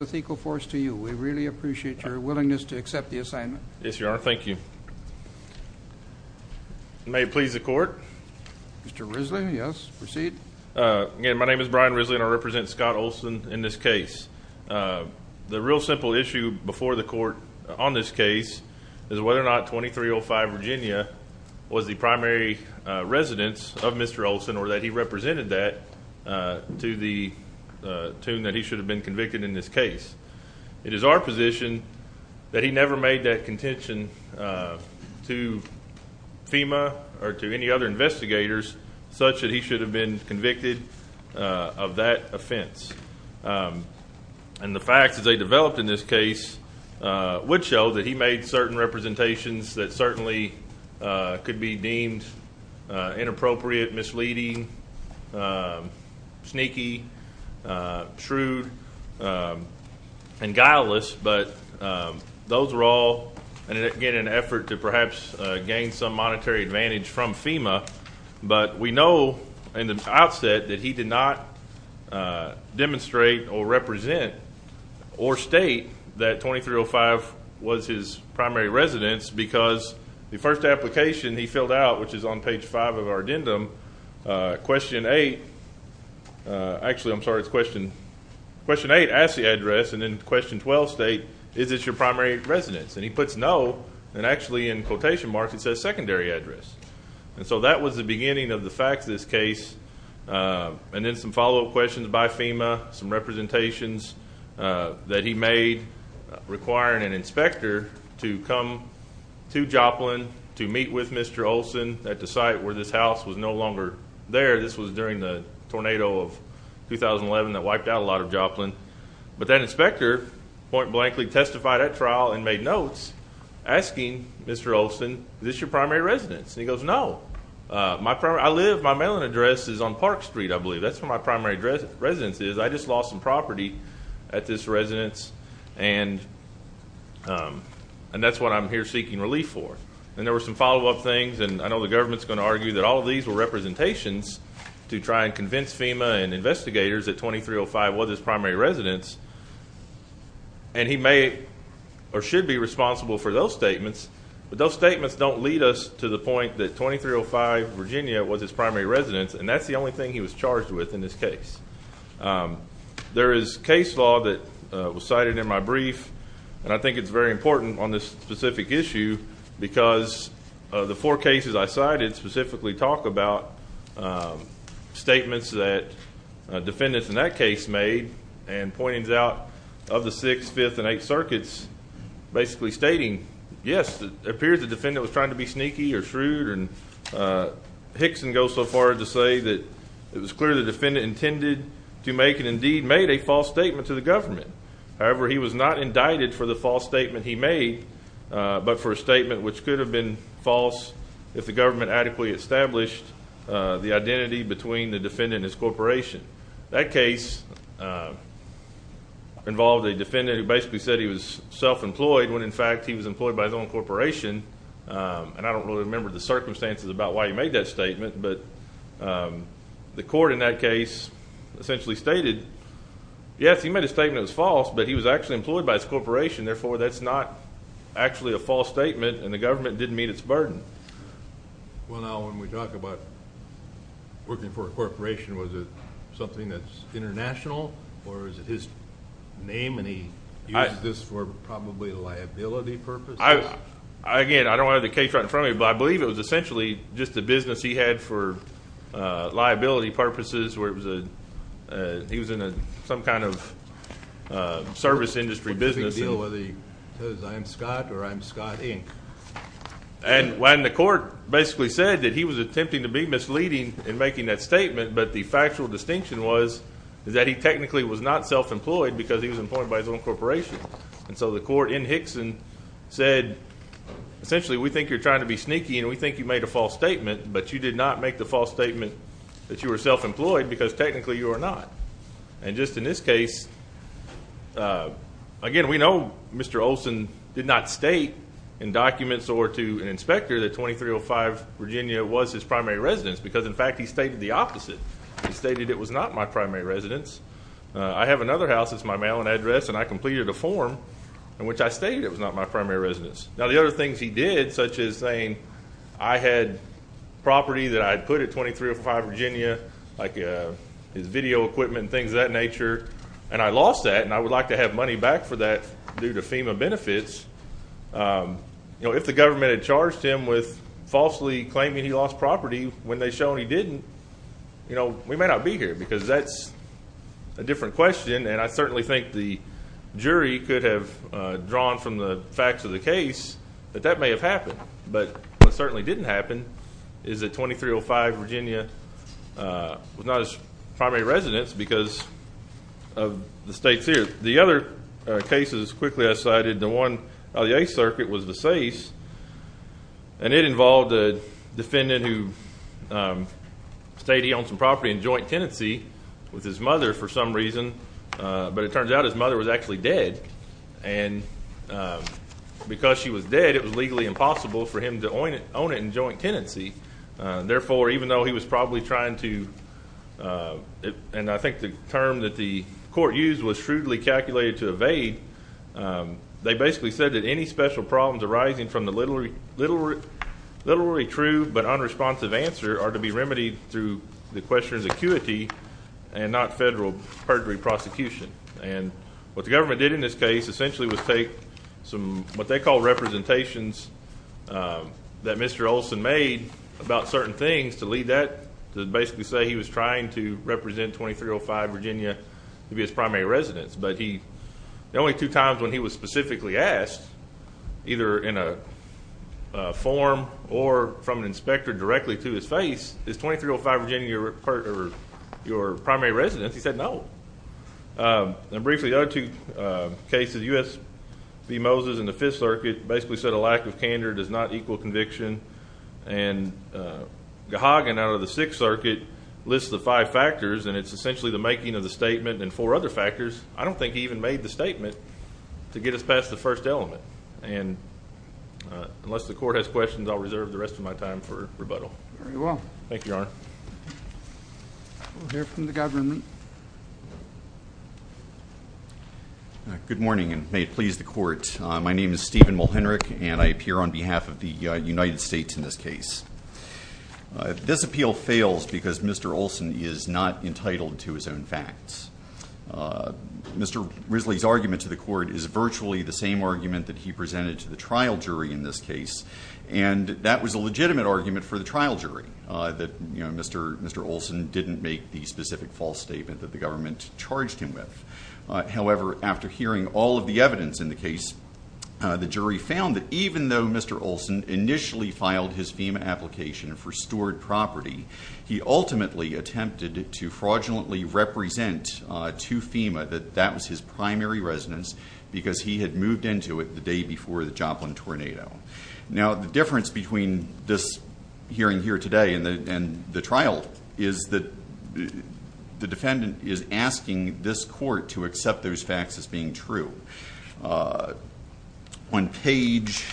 with equal force to you. We really appreciate your willingness to accept the assignment. Yes, your honor. Thank you. May it please the court. Mr Risley. Yes. Proceed. Uh, again, my name is Brian Risley and I represent Scott Olsen in this case. Uh, the real simple issue before the court on this case is whether or not 23 05 Virginia was the primary residents of Mr Olsen or that he represented that, uh, to the tune that he should have been convicted in this case. It is our position that he never made that contention, uh, to FEMA or to any other investigators such that he should have been convicted of that offense. Um, and the fact that they developed in this case, uh, would show that he made certain representations that certainly could be deemed inappropriate, misleading, um, sneaky, uh, shrewd, um, and guileless. But, um, those were all get an effort to perhaps gain some monetary advantage from FEMA. But we know in the outset that he did not, uh, demonstrate or represent or state that 23 05 was his because the first application he filled out, which is on page five of our addendum. Uh, question eight. Uh, actually, I'm sorry. It's question question eight. Ask the address and then question 12 state. Is this your primary residence? And he puts no. And actually, in quotation marks, it says secondary address. And so that was the beginning of the fact this case. Uh, and then some follow up questions by FEMA, some representations, uh, that he made requiring an inspector to come to Joplin to meet with Mr Olson at the site where this house was no longer there. This was during the tornado of 2011 that wiped out a lot of Joplin. But that inspector point blankly testified at trial and made notes asking Mr Olson. This your primary residence? He goes, No, my I live. My mailing address is on Park Street. I believe that's where my primary address residence is. I just lost some and, um, and that's what I'm here seeking relief for. And there was some follow up things. And I know the government's gonna argue that all of these were representations to try and convince FEMA and investigators that 23 oh five was his primary residence, and he may or should be responsible for those statements. But those statements don't lead us to the point that 23 oh five Virginia was his primary residence. And that's the only thing he was charged with. In this case, um, there is case law that was cited in my brief, and I think it's very important on this specific issue because of the four cases I cited specifically talk about, um, statements that defendants in that case made and pointings out of the 6th, 5th and 8th circuits basically stating Yes, it appears the defendant was trying to be sneaky or shrewd. And, uh, Hickson goes so far to say that it was clear the defendant intended to make and indeed made a false statement to the government. However, he was not indicted for the false statement he made, but for a statement which could have been false if the government adequately established the identity between the defendant and his corporation. That case, uh, involved a defendant who basically said he was self employed when, in fact, he was employed by his own corporation. Um, and I don't really remember the um, the court in that case essentially stated Yes, he made a statement was false, but he was actually employed by his corporation. Therefore, that's not actually a false statement, and the government didn't meet its burden. Well, now, when we talk about working for a corporation, was it something that's international? Or is it his name? And he used this for probably liability purpose? I again, I don't have the case right in front of me, but I believe it was essentially just the business he had for liability purposes where it was a he was in some kind of service industry business deal with the I'm Scott or I'm Scott Inc. And when the court basically said that he was attempting to be misleading and making that statement, but the factual distinction was that he technically was not self employed because he was employed by his own corporation. And so the court in Hickson said, essentially, we think you're trying to be sneaky, and we think you made a false statement, but you did not make the false statement that you were self employed because technically you are not. And just in this case, again, we know Mr Olson did not state in documents or to an inspector that 2305 Virginia was his primary residence because, in fact, he stated the opposite. He stated it was not my primary residence. I have another house. It's my mail and address, and I completed a form in which I stayed. It was not my primary residence. Now, the other things he did, such as saying I had property that I put it 23 or five Virginia like his video equipment, things of that nature, and I lost that, and I would like to have money back for that due to FEMA benefits. You know, if the government had charged him with falsely claiming he lost property when they shown he didn't, you know, we may not be here because that's a different question. And I certainly think the jury could have drawn from the facts of the case that that may have happened. But what certainly didn't happen is that 2305 Virginia was not his primary residence because of the state's here. The other cases quickly I cited the one of the A circuit was the safe, and it involved a defendant who state he owns some property in joint tenancy with his mother for some reason. But it turns out his mother was actually dead. And because she was dead, it was legally impossible for him to own it own it in joint tenancy. Therefore, even though he was probably trying to and I think the term that the court used was shrewdly calculated to evade. They basically said that any special problems arising from the little literally true but unresponsive answer are to be remedied through the jury prosecution. And what the government did in this case essentially was take some what they call representations that Mr Olson made about certain things to lead that basically say he was trying to represent 2305 Virginia to be his primary residence. But he the only two times when he was specifically asked, either in a form or from an inspector directly to his face is 2305 Virginia. Your primary residence, he said. No. Briefly, the other two cases. U. S. B. Moses in the Fifth Circuit basically said a lack of candor does not equal conviction. And, uh, hogging out of the Sixth Circuit lists the five factors, and it's essentially the making of the statement and four other factors. I don't think he even made the statement to get us past the first element. And unless the court has questions, I'll reserve the rest of my time for the government. Good morning, and may it please the court. My name is Stephen Mulhenry, and I appear on behalf of the United States in this case. This appeal fails because Mr Olson is not entitled to his own facts. Mr Risley's argument to the court is virtually the same argument that he presented to the trial jury in this case, and that was a legitimate argument for the trial jury that Mr Olson didn't make the specific false statement that the government charged him with. However, after hearing all of the evidence in the case, the jury found that even though Mr Olson initially filed his FEMA application for stored property, he ultimately attempted to fraudulently represent to FEMA that that was his primary residence because he had moved into it the day before the Joplin tornado. Now, the difference between this hearing here today and the trial is that the defendant is asking this court to accept those facts as being true. On page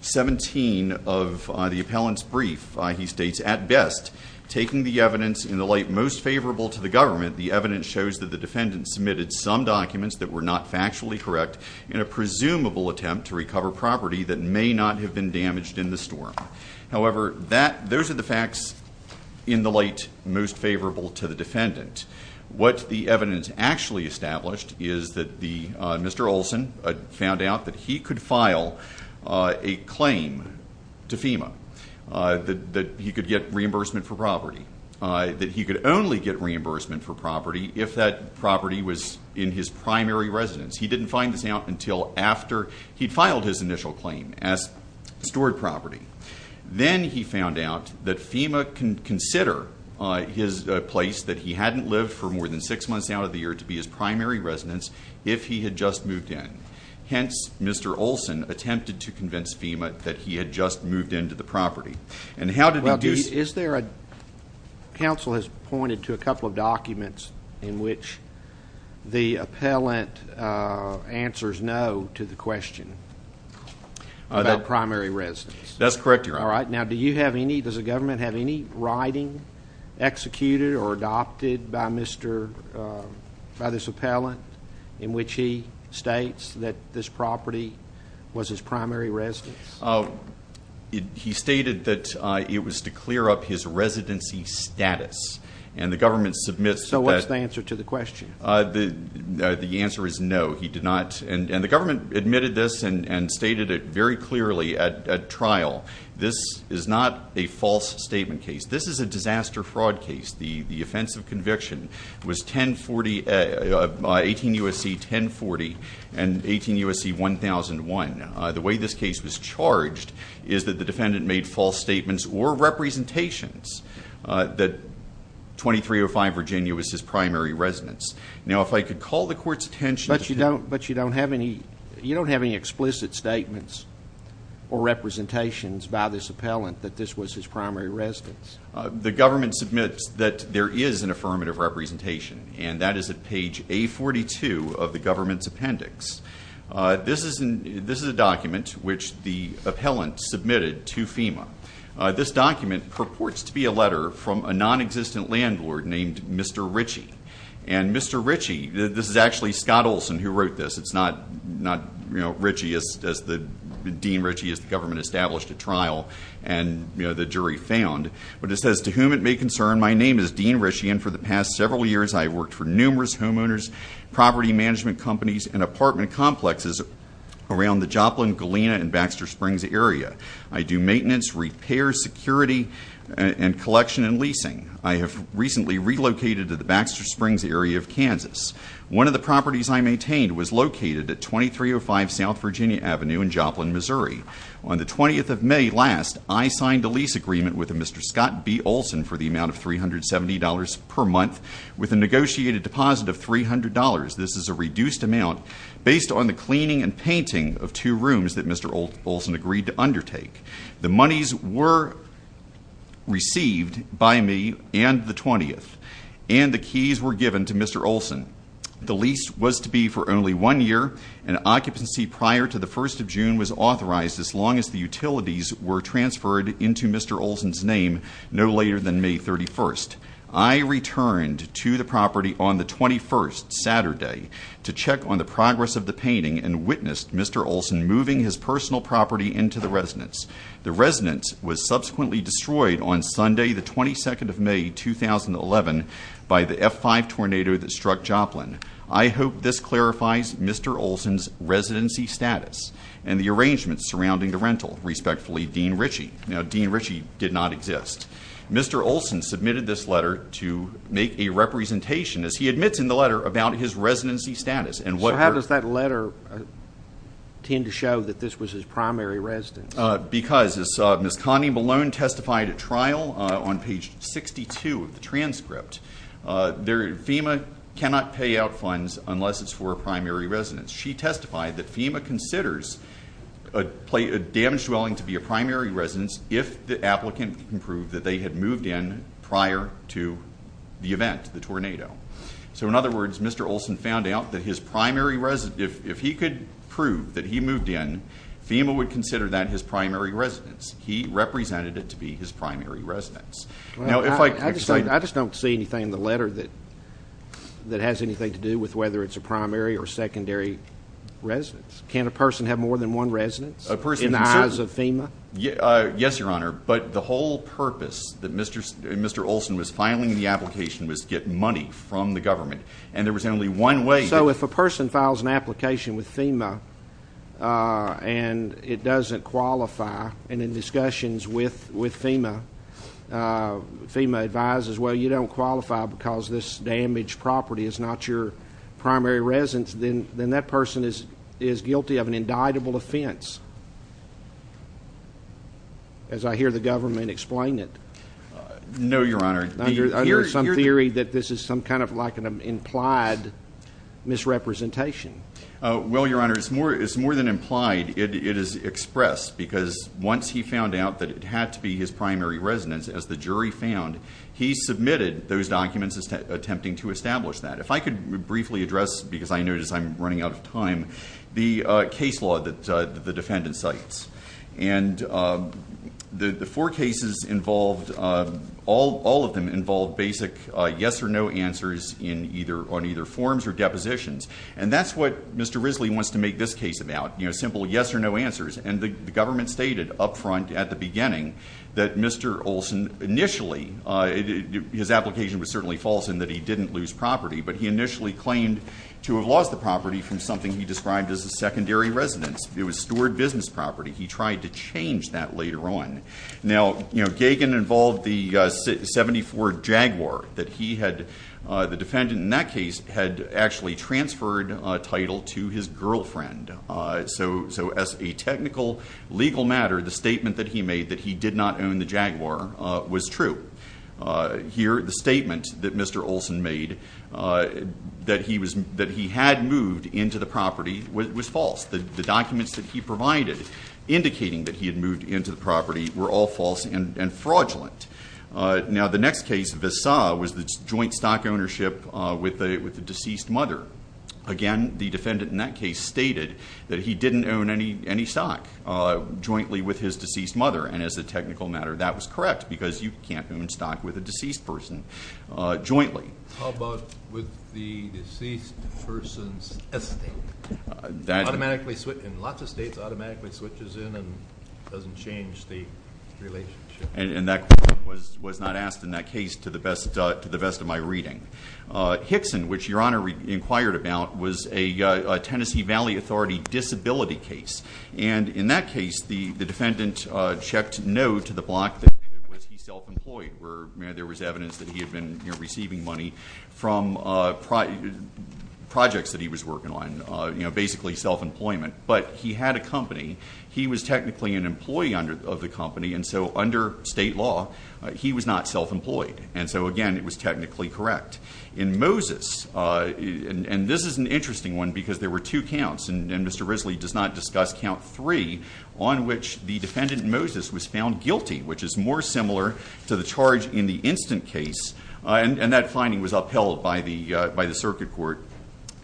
17 of the appellant's brief, he states, At best, taking the evidence in the light most favorable to the government, the evidence shows that the defendant submitted some documents that were not factually correct in a storm. However, those are the facts in the light most favorable to the defendant. What the evidence actually established is that Mr Olson found out that he could file a claim to FEMA, that he could get reimbursement for property, that he could only get reimbursement for property if that property was in his primary residence. He didn't find this out until after he filed his initial claim as stored property. Then he found out that FEMA can consider his place that he hadn't lived for more than six months out of the year to be his primary residence if he had just moved in. Hence, Mr Olson attempted to convince FEMA that he had just moved into the property. And how did he do... Is there a... Counsel has pointed to a couple of documents in which the appellant answers no to the question about primary residence. That's correct, Your Honor. All right. Now, do you have any... Does the government have any writing executed or adopted by Mr... By this appellant in which he states that this property was his primary residence? He stated that it was to clear up his residency status. And the government submits... So what's the answer to the question? The answer is no. He did not... And the government admitted this and stated it very clearly at trial. This is not a false statement case. This is a disaster fraud case. The offense of conviction was 1040... 18 U.S.C. 1040 and 18 U.S.C. 1001. The way this case was charged is that the defendant made false statements or representations that 2305 Virginia was his primary residence. Now, if I could call the court's attention... But you don't... But you don't have any... You don't have any explicit statements or representations by this appellant that this was his primary residence. The government submits that there is an affirmative representation. And that is at page A42 of the government's appendix. This is... This is a document which the appellant submitted to FEMA. This document purports to be a letter from a non-existent landlord named Mr. Ritchie. And Mr. Ritchie... This is actually Scott Olson who wrote this. It's not, you know, Ritchie as the... Dean Ritchie as the government established at trial and, you know, the jury found. But it says, to whom it may concern, my name is Dean Ritchie and for the past several years I've worked for numerous homeowners, property management companies, and apartment complexes around the Joplin, Galena, and Baxter Springs area. I do maintenance, repair, security, and collection and leasing. I have recently relocated to the Baxter Springs area of Kansas. One of the properties I maintained was located at 2305 South Virginia Avenue in Joplin, Missouri. On the 20th of May last, I signed a lease agreement with a Mr. Scott B Olson for the amount of $370 per month with a negotiated deposit of $300. This is a reduced amount based on the cleaning and painting of two rooms that Mr. Olson agreed to undertake. The monies were received by me and the 20th and the keys were given to Mr. Olson. The lease was to be for only one year and occupancy prior to the 1st of June was authorized as long as the utilities were transferred into Mr. Olson's name no later than May 31st. I returned to the property on the 21st, Saturday, to check on the progress of the painting and witnessed Mr. Olson moving his personal property into the residence. The residence was subsequently destroyed on Sunday the 22nd of May 2011 by the F5 tornado that struck Joplin. I hope this clarifies Mr. Olson's residency status and the arrangements surrounding the rental. Respectfully, Dean Ritchie. Now Dean Ritchie did not exist. Mr. Olson submitted this letter to make a representation as he admits in letter tend to show that this was his primary residence. Because as Miss Connie Malone testified at trial on page 62 of the transcript, FEMA cannot pay out funds unless it's for a primary residence. She testified that FEMA considers a damaged dwelling to be a primary residence if the applicant can prove that they had moved in prior to the event, the tornado. So in other words, Mr. Olson found out that his primary residence, if he could prove that he moved in, FEMA would consider that his primary residence. He represented it to be his primary residence. I just don't see anything in the letter that has anything to do with whether it's a primary or secondary residence. Can't a person have more than one residence in the eyes of FEMA? Yes, Your Honor, but the whole purpose that Mr. Olson was filing the government and there was only one way. So if a person files an application with FEMA and it doesn't qualify and in discussions with FEMA, FEMA advises well you don't qualify because this damaged property is not your primary residence, then that person is guilty of an indictable offense. As I hear the government explain it. No, Your Honor. I hear some theory that this is some kind of like an implied misrepresentation. Well, Your Honor, it's more than implied. It is expressed because once he found out that it had to be his primary residence, as the jury found, he submitted those documents attempting to establish that. If I could briefly address, because I notice I'm running out of time, the case law that the defendant cites. And the four cases involved, all of them involved basic yes or no answers in either on either forms or depositions. And that's what Mr. Risley wants to make this case about. You know, simple yes or no answers. And the government stated up front at the beginning that Mr. Olson initially, his application was certainly false in that he didn't lose property, but he initially claimed to have lost the property from something he described as a secondary residence. It was stored business property. He tried to change that later on. Now, you know, Gagin involved the 74 Jaguar that he had, the defendant in that case, had actually transferred title to his girlfriend. So as a technical legal matter, the statement that he made that he did not own the Jaguar was true. Here, the statement that Mr. Olson made that he had moved into the property was false. The documents that he provided indicating that he had moved into the property were all false and fraudulent. Now, the next case, Visa, was the joint stock ownership with the deceased mother. Again, the defendant in that case stated that he didn't own any any stock jointly with his deceased mother. And as a technical matter, that was correct because you can't own stock with a and that was was not asked in that case to the best to the best of my reading. Hickson, which your Honor inquired about, was a Tennessee Valley Authority disability case. And in that case, the defendant checked no to the block that he self-employed, where there was evidence that he had been receiving money from projects that he was working on. You know, basically self-employment. But he had a company. He was technically an employee under of the company. And so under state law, he was not self-employed. And so again, it was technically correct. In Moses, and this is an interesting one because there were two counts, and Mr. Risley does not discuss count three, on which the defendant Moses was found guilty, which is more similar to the charge in the instant case. And that finding was upheld by the by the circuit court.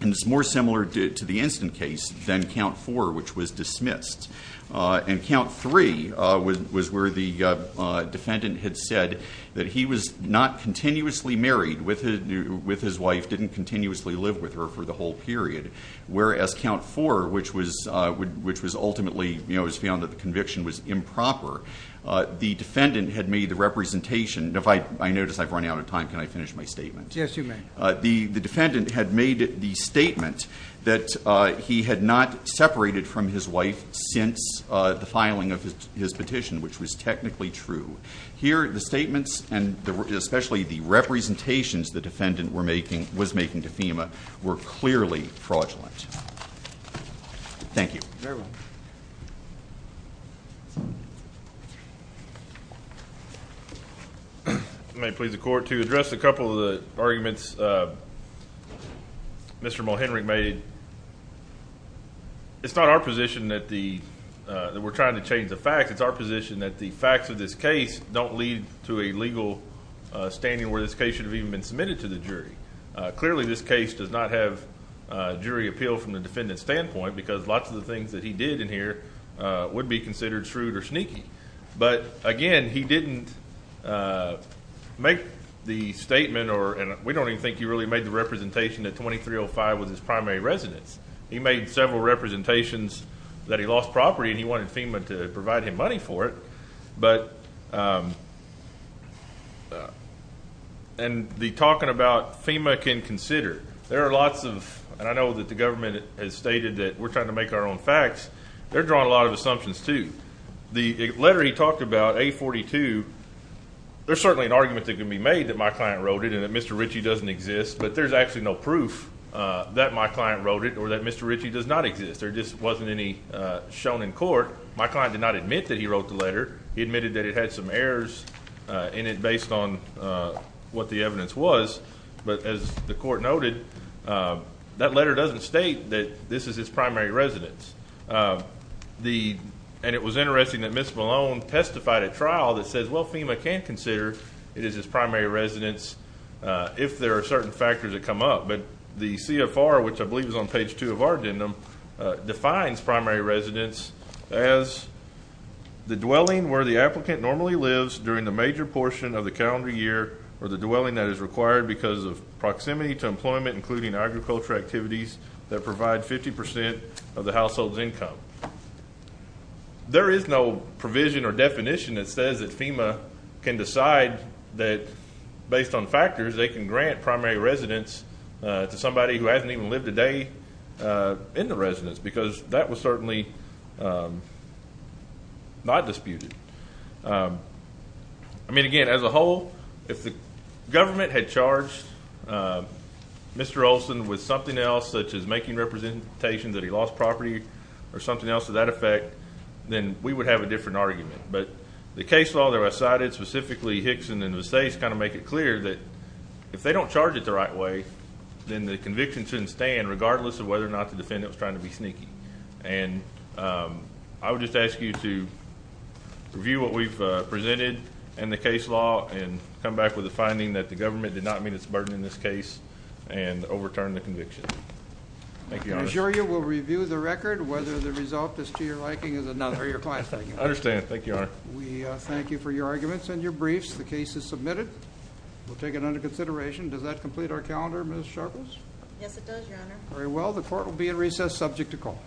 And it's more similar to the instant case than count four, which was dismissed. And count three was where the defendant had said that he was not continuously married with his wife, didn't continuously live with her for the whole period. Whereas count four, which was ultimately, you know, was found that the conviction was improper. The defendant had made the representation, if I notice I've run out of time, can I finish my statement? Yes, you may. The defendant had made the statement that he had not separated from his wife since the filing of his petition, which was technically true. Here, the statements and especially the representations the defendant were making, was making to FEMA, were clearly fraudulent. Thank you. Very well. May it please the court, to address a couple of the arguments Mr. Mulhenry made. It's not our position that the, that we're trying to change the facts. It's our position that the facts of this case don't lead to a legal standing where this case should have even been submitted to the jury. Clearly, this case does not have jury appeal from the defendant's standpoint, because lots of the things that he did in here would be considered shrewd or sneaky. But again, he didn't make the statement or, and we don't even think he really made the representation that 2305 was his primary residence. He made several representations that he lost property and he wanted FEMA to provide him money for it, but and the talking about FEMA can consider. There are lots of, and I know that the facts, they're drawing a lot of assumptions to the letter. He talked about a 42. There's certainly an argument that can be made that my client wrote it and that Mr Richie doesn't exist. But there's actually no proof that my client wrote it or that Mr Richie does not exist. There just wasn't any shown in court. My client did not admit that he wrote the letter. He admitted that it had some errors in it based on what the evidence was. But as the court noted, uh, that letter doesn't state that this is his primary residence. Uh, the and it was interesting that Miss Malone testified a trial that says, well, FEMA can consider it is his primary residence if there are certain factors that come up. But the CFR, which I believe is on page two of our agenda, defines primary residence as the dwelling where the applicant normally lives during the major portion of the calendar year or the dwelling that is required because of proximity to employment, including agriculture activities that provide 50% of the household's income. There is no provision or definition that says that FEMA can decide that based on factors they can grant primary residence to somebody who hasn't even lived a day, uh, in the residence because that was certainly, um, not disputed. Um, I mean, again, as a whole, if the government had charged, uh, Mr Olson with something else, such as making representation that he lost property or something else to that effect, then we would have a different argument. But the case law that was cited specifically Hickson in the states kind of make it clear that if they don't charge it the right way, then the conviction shouldn't stand, regardless of whether or not the defendant was trying to be sneaky. And, um, I would just ask you to review what we've presented and the case law and come back with the finding that the garden in this case and overturned the conviction. Thank you. I'm sure you will review the record. Whether the result is to your liking is another your class. Thank you. Understand. Thank you. We thank you for your arguments and your briefs. The case is submitted. We'll take it under consideration. Does that complete our calendar? Miss Sharples? Yes, it does. Very well. The court will be in recess subject to call.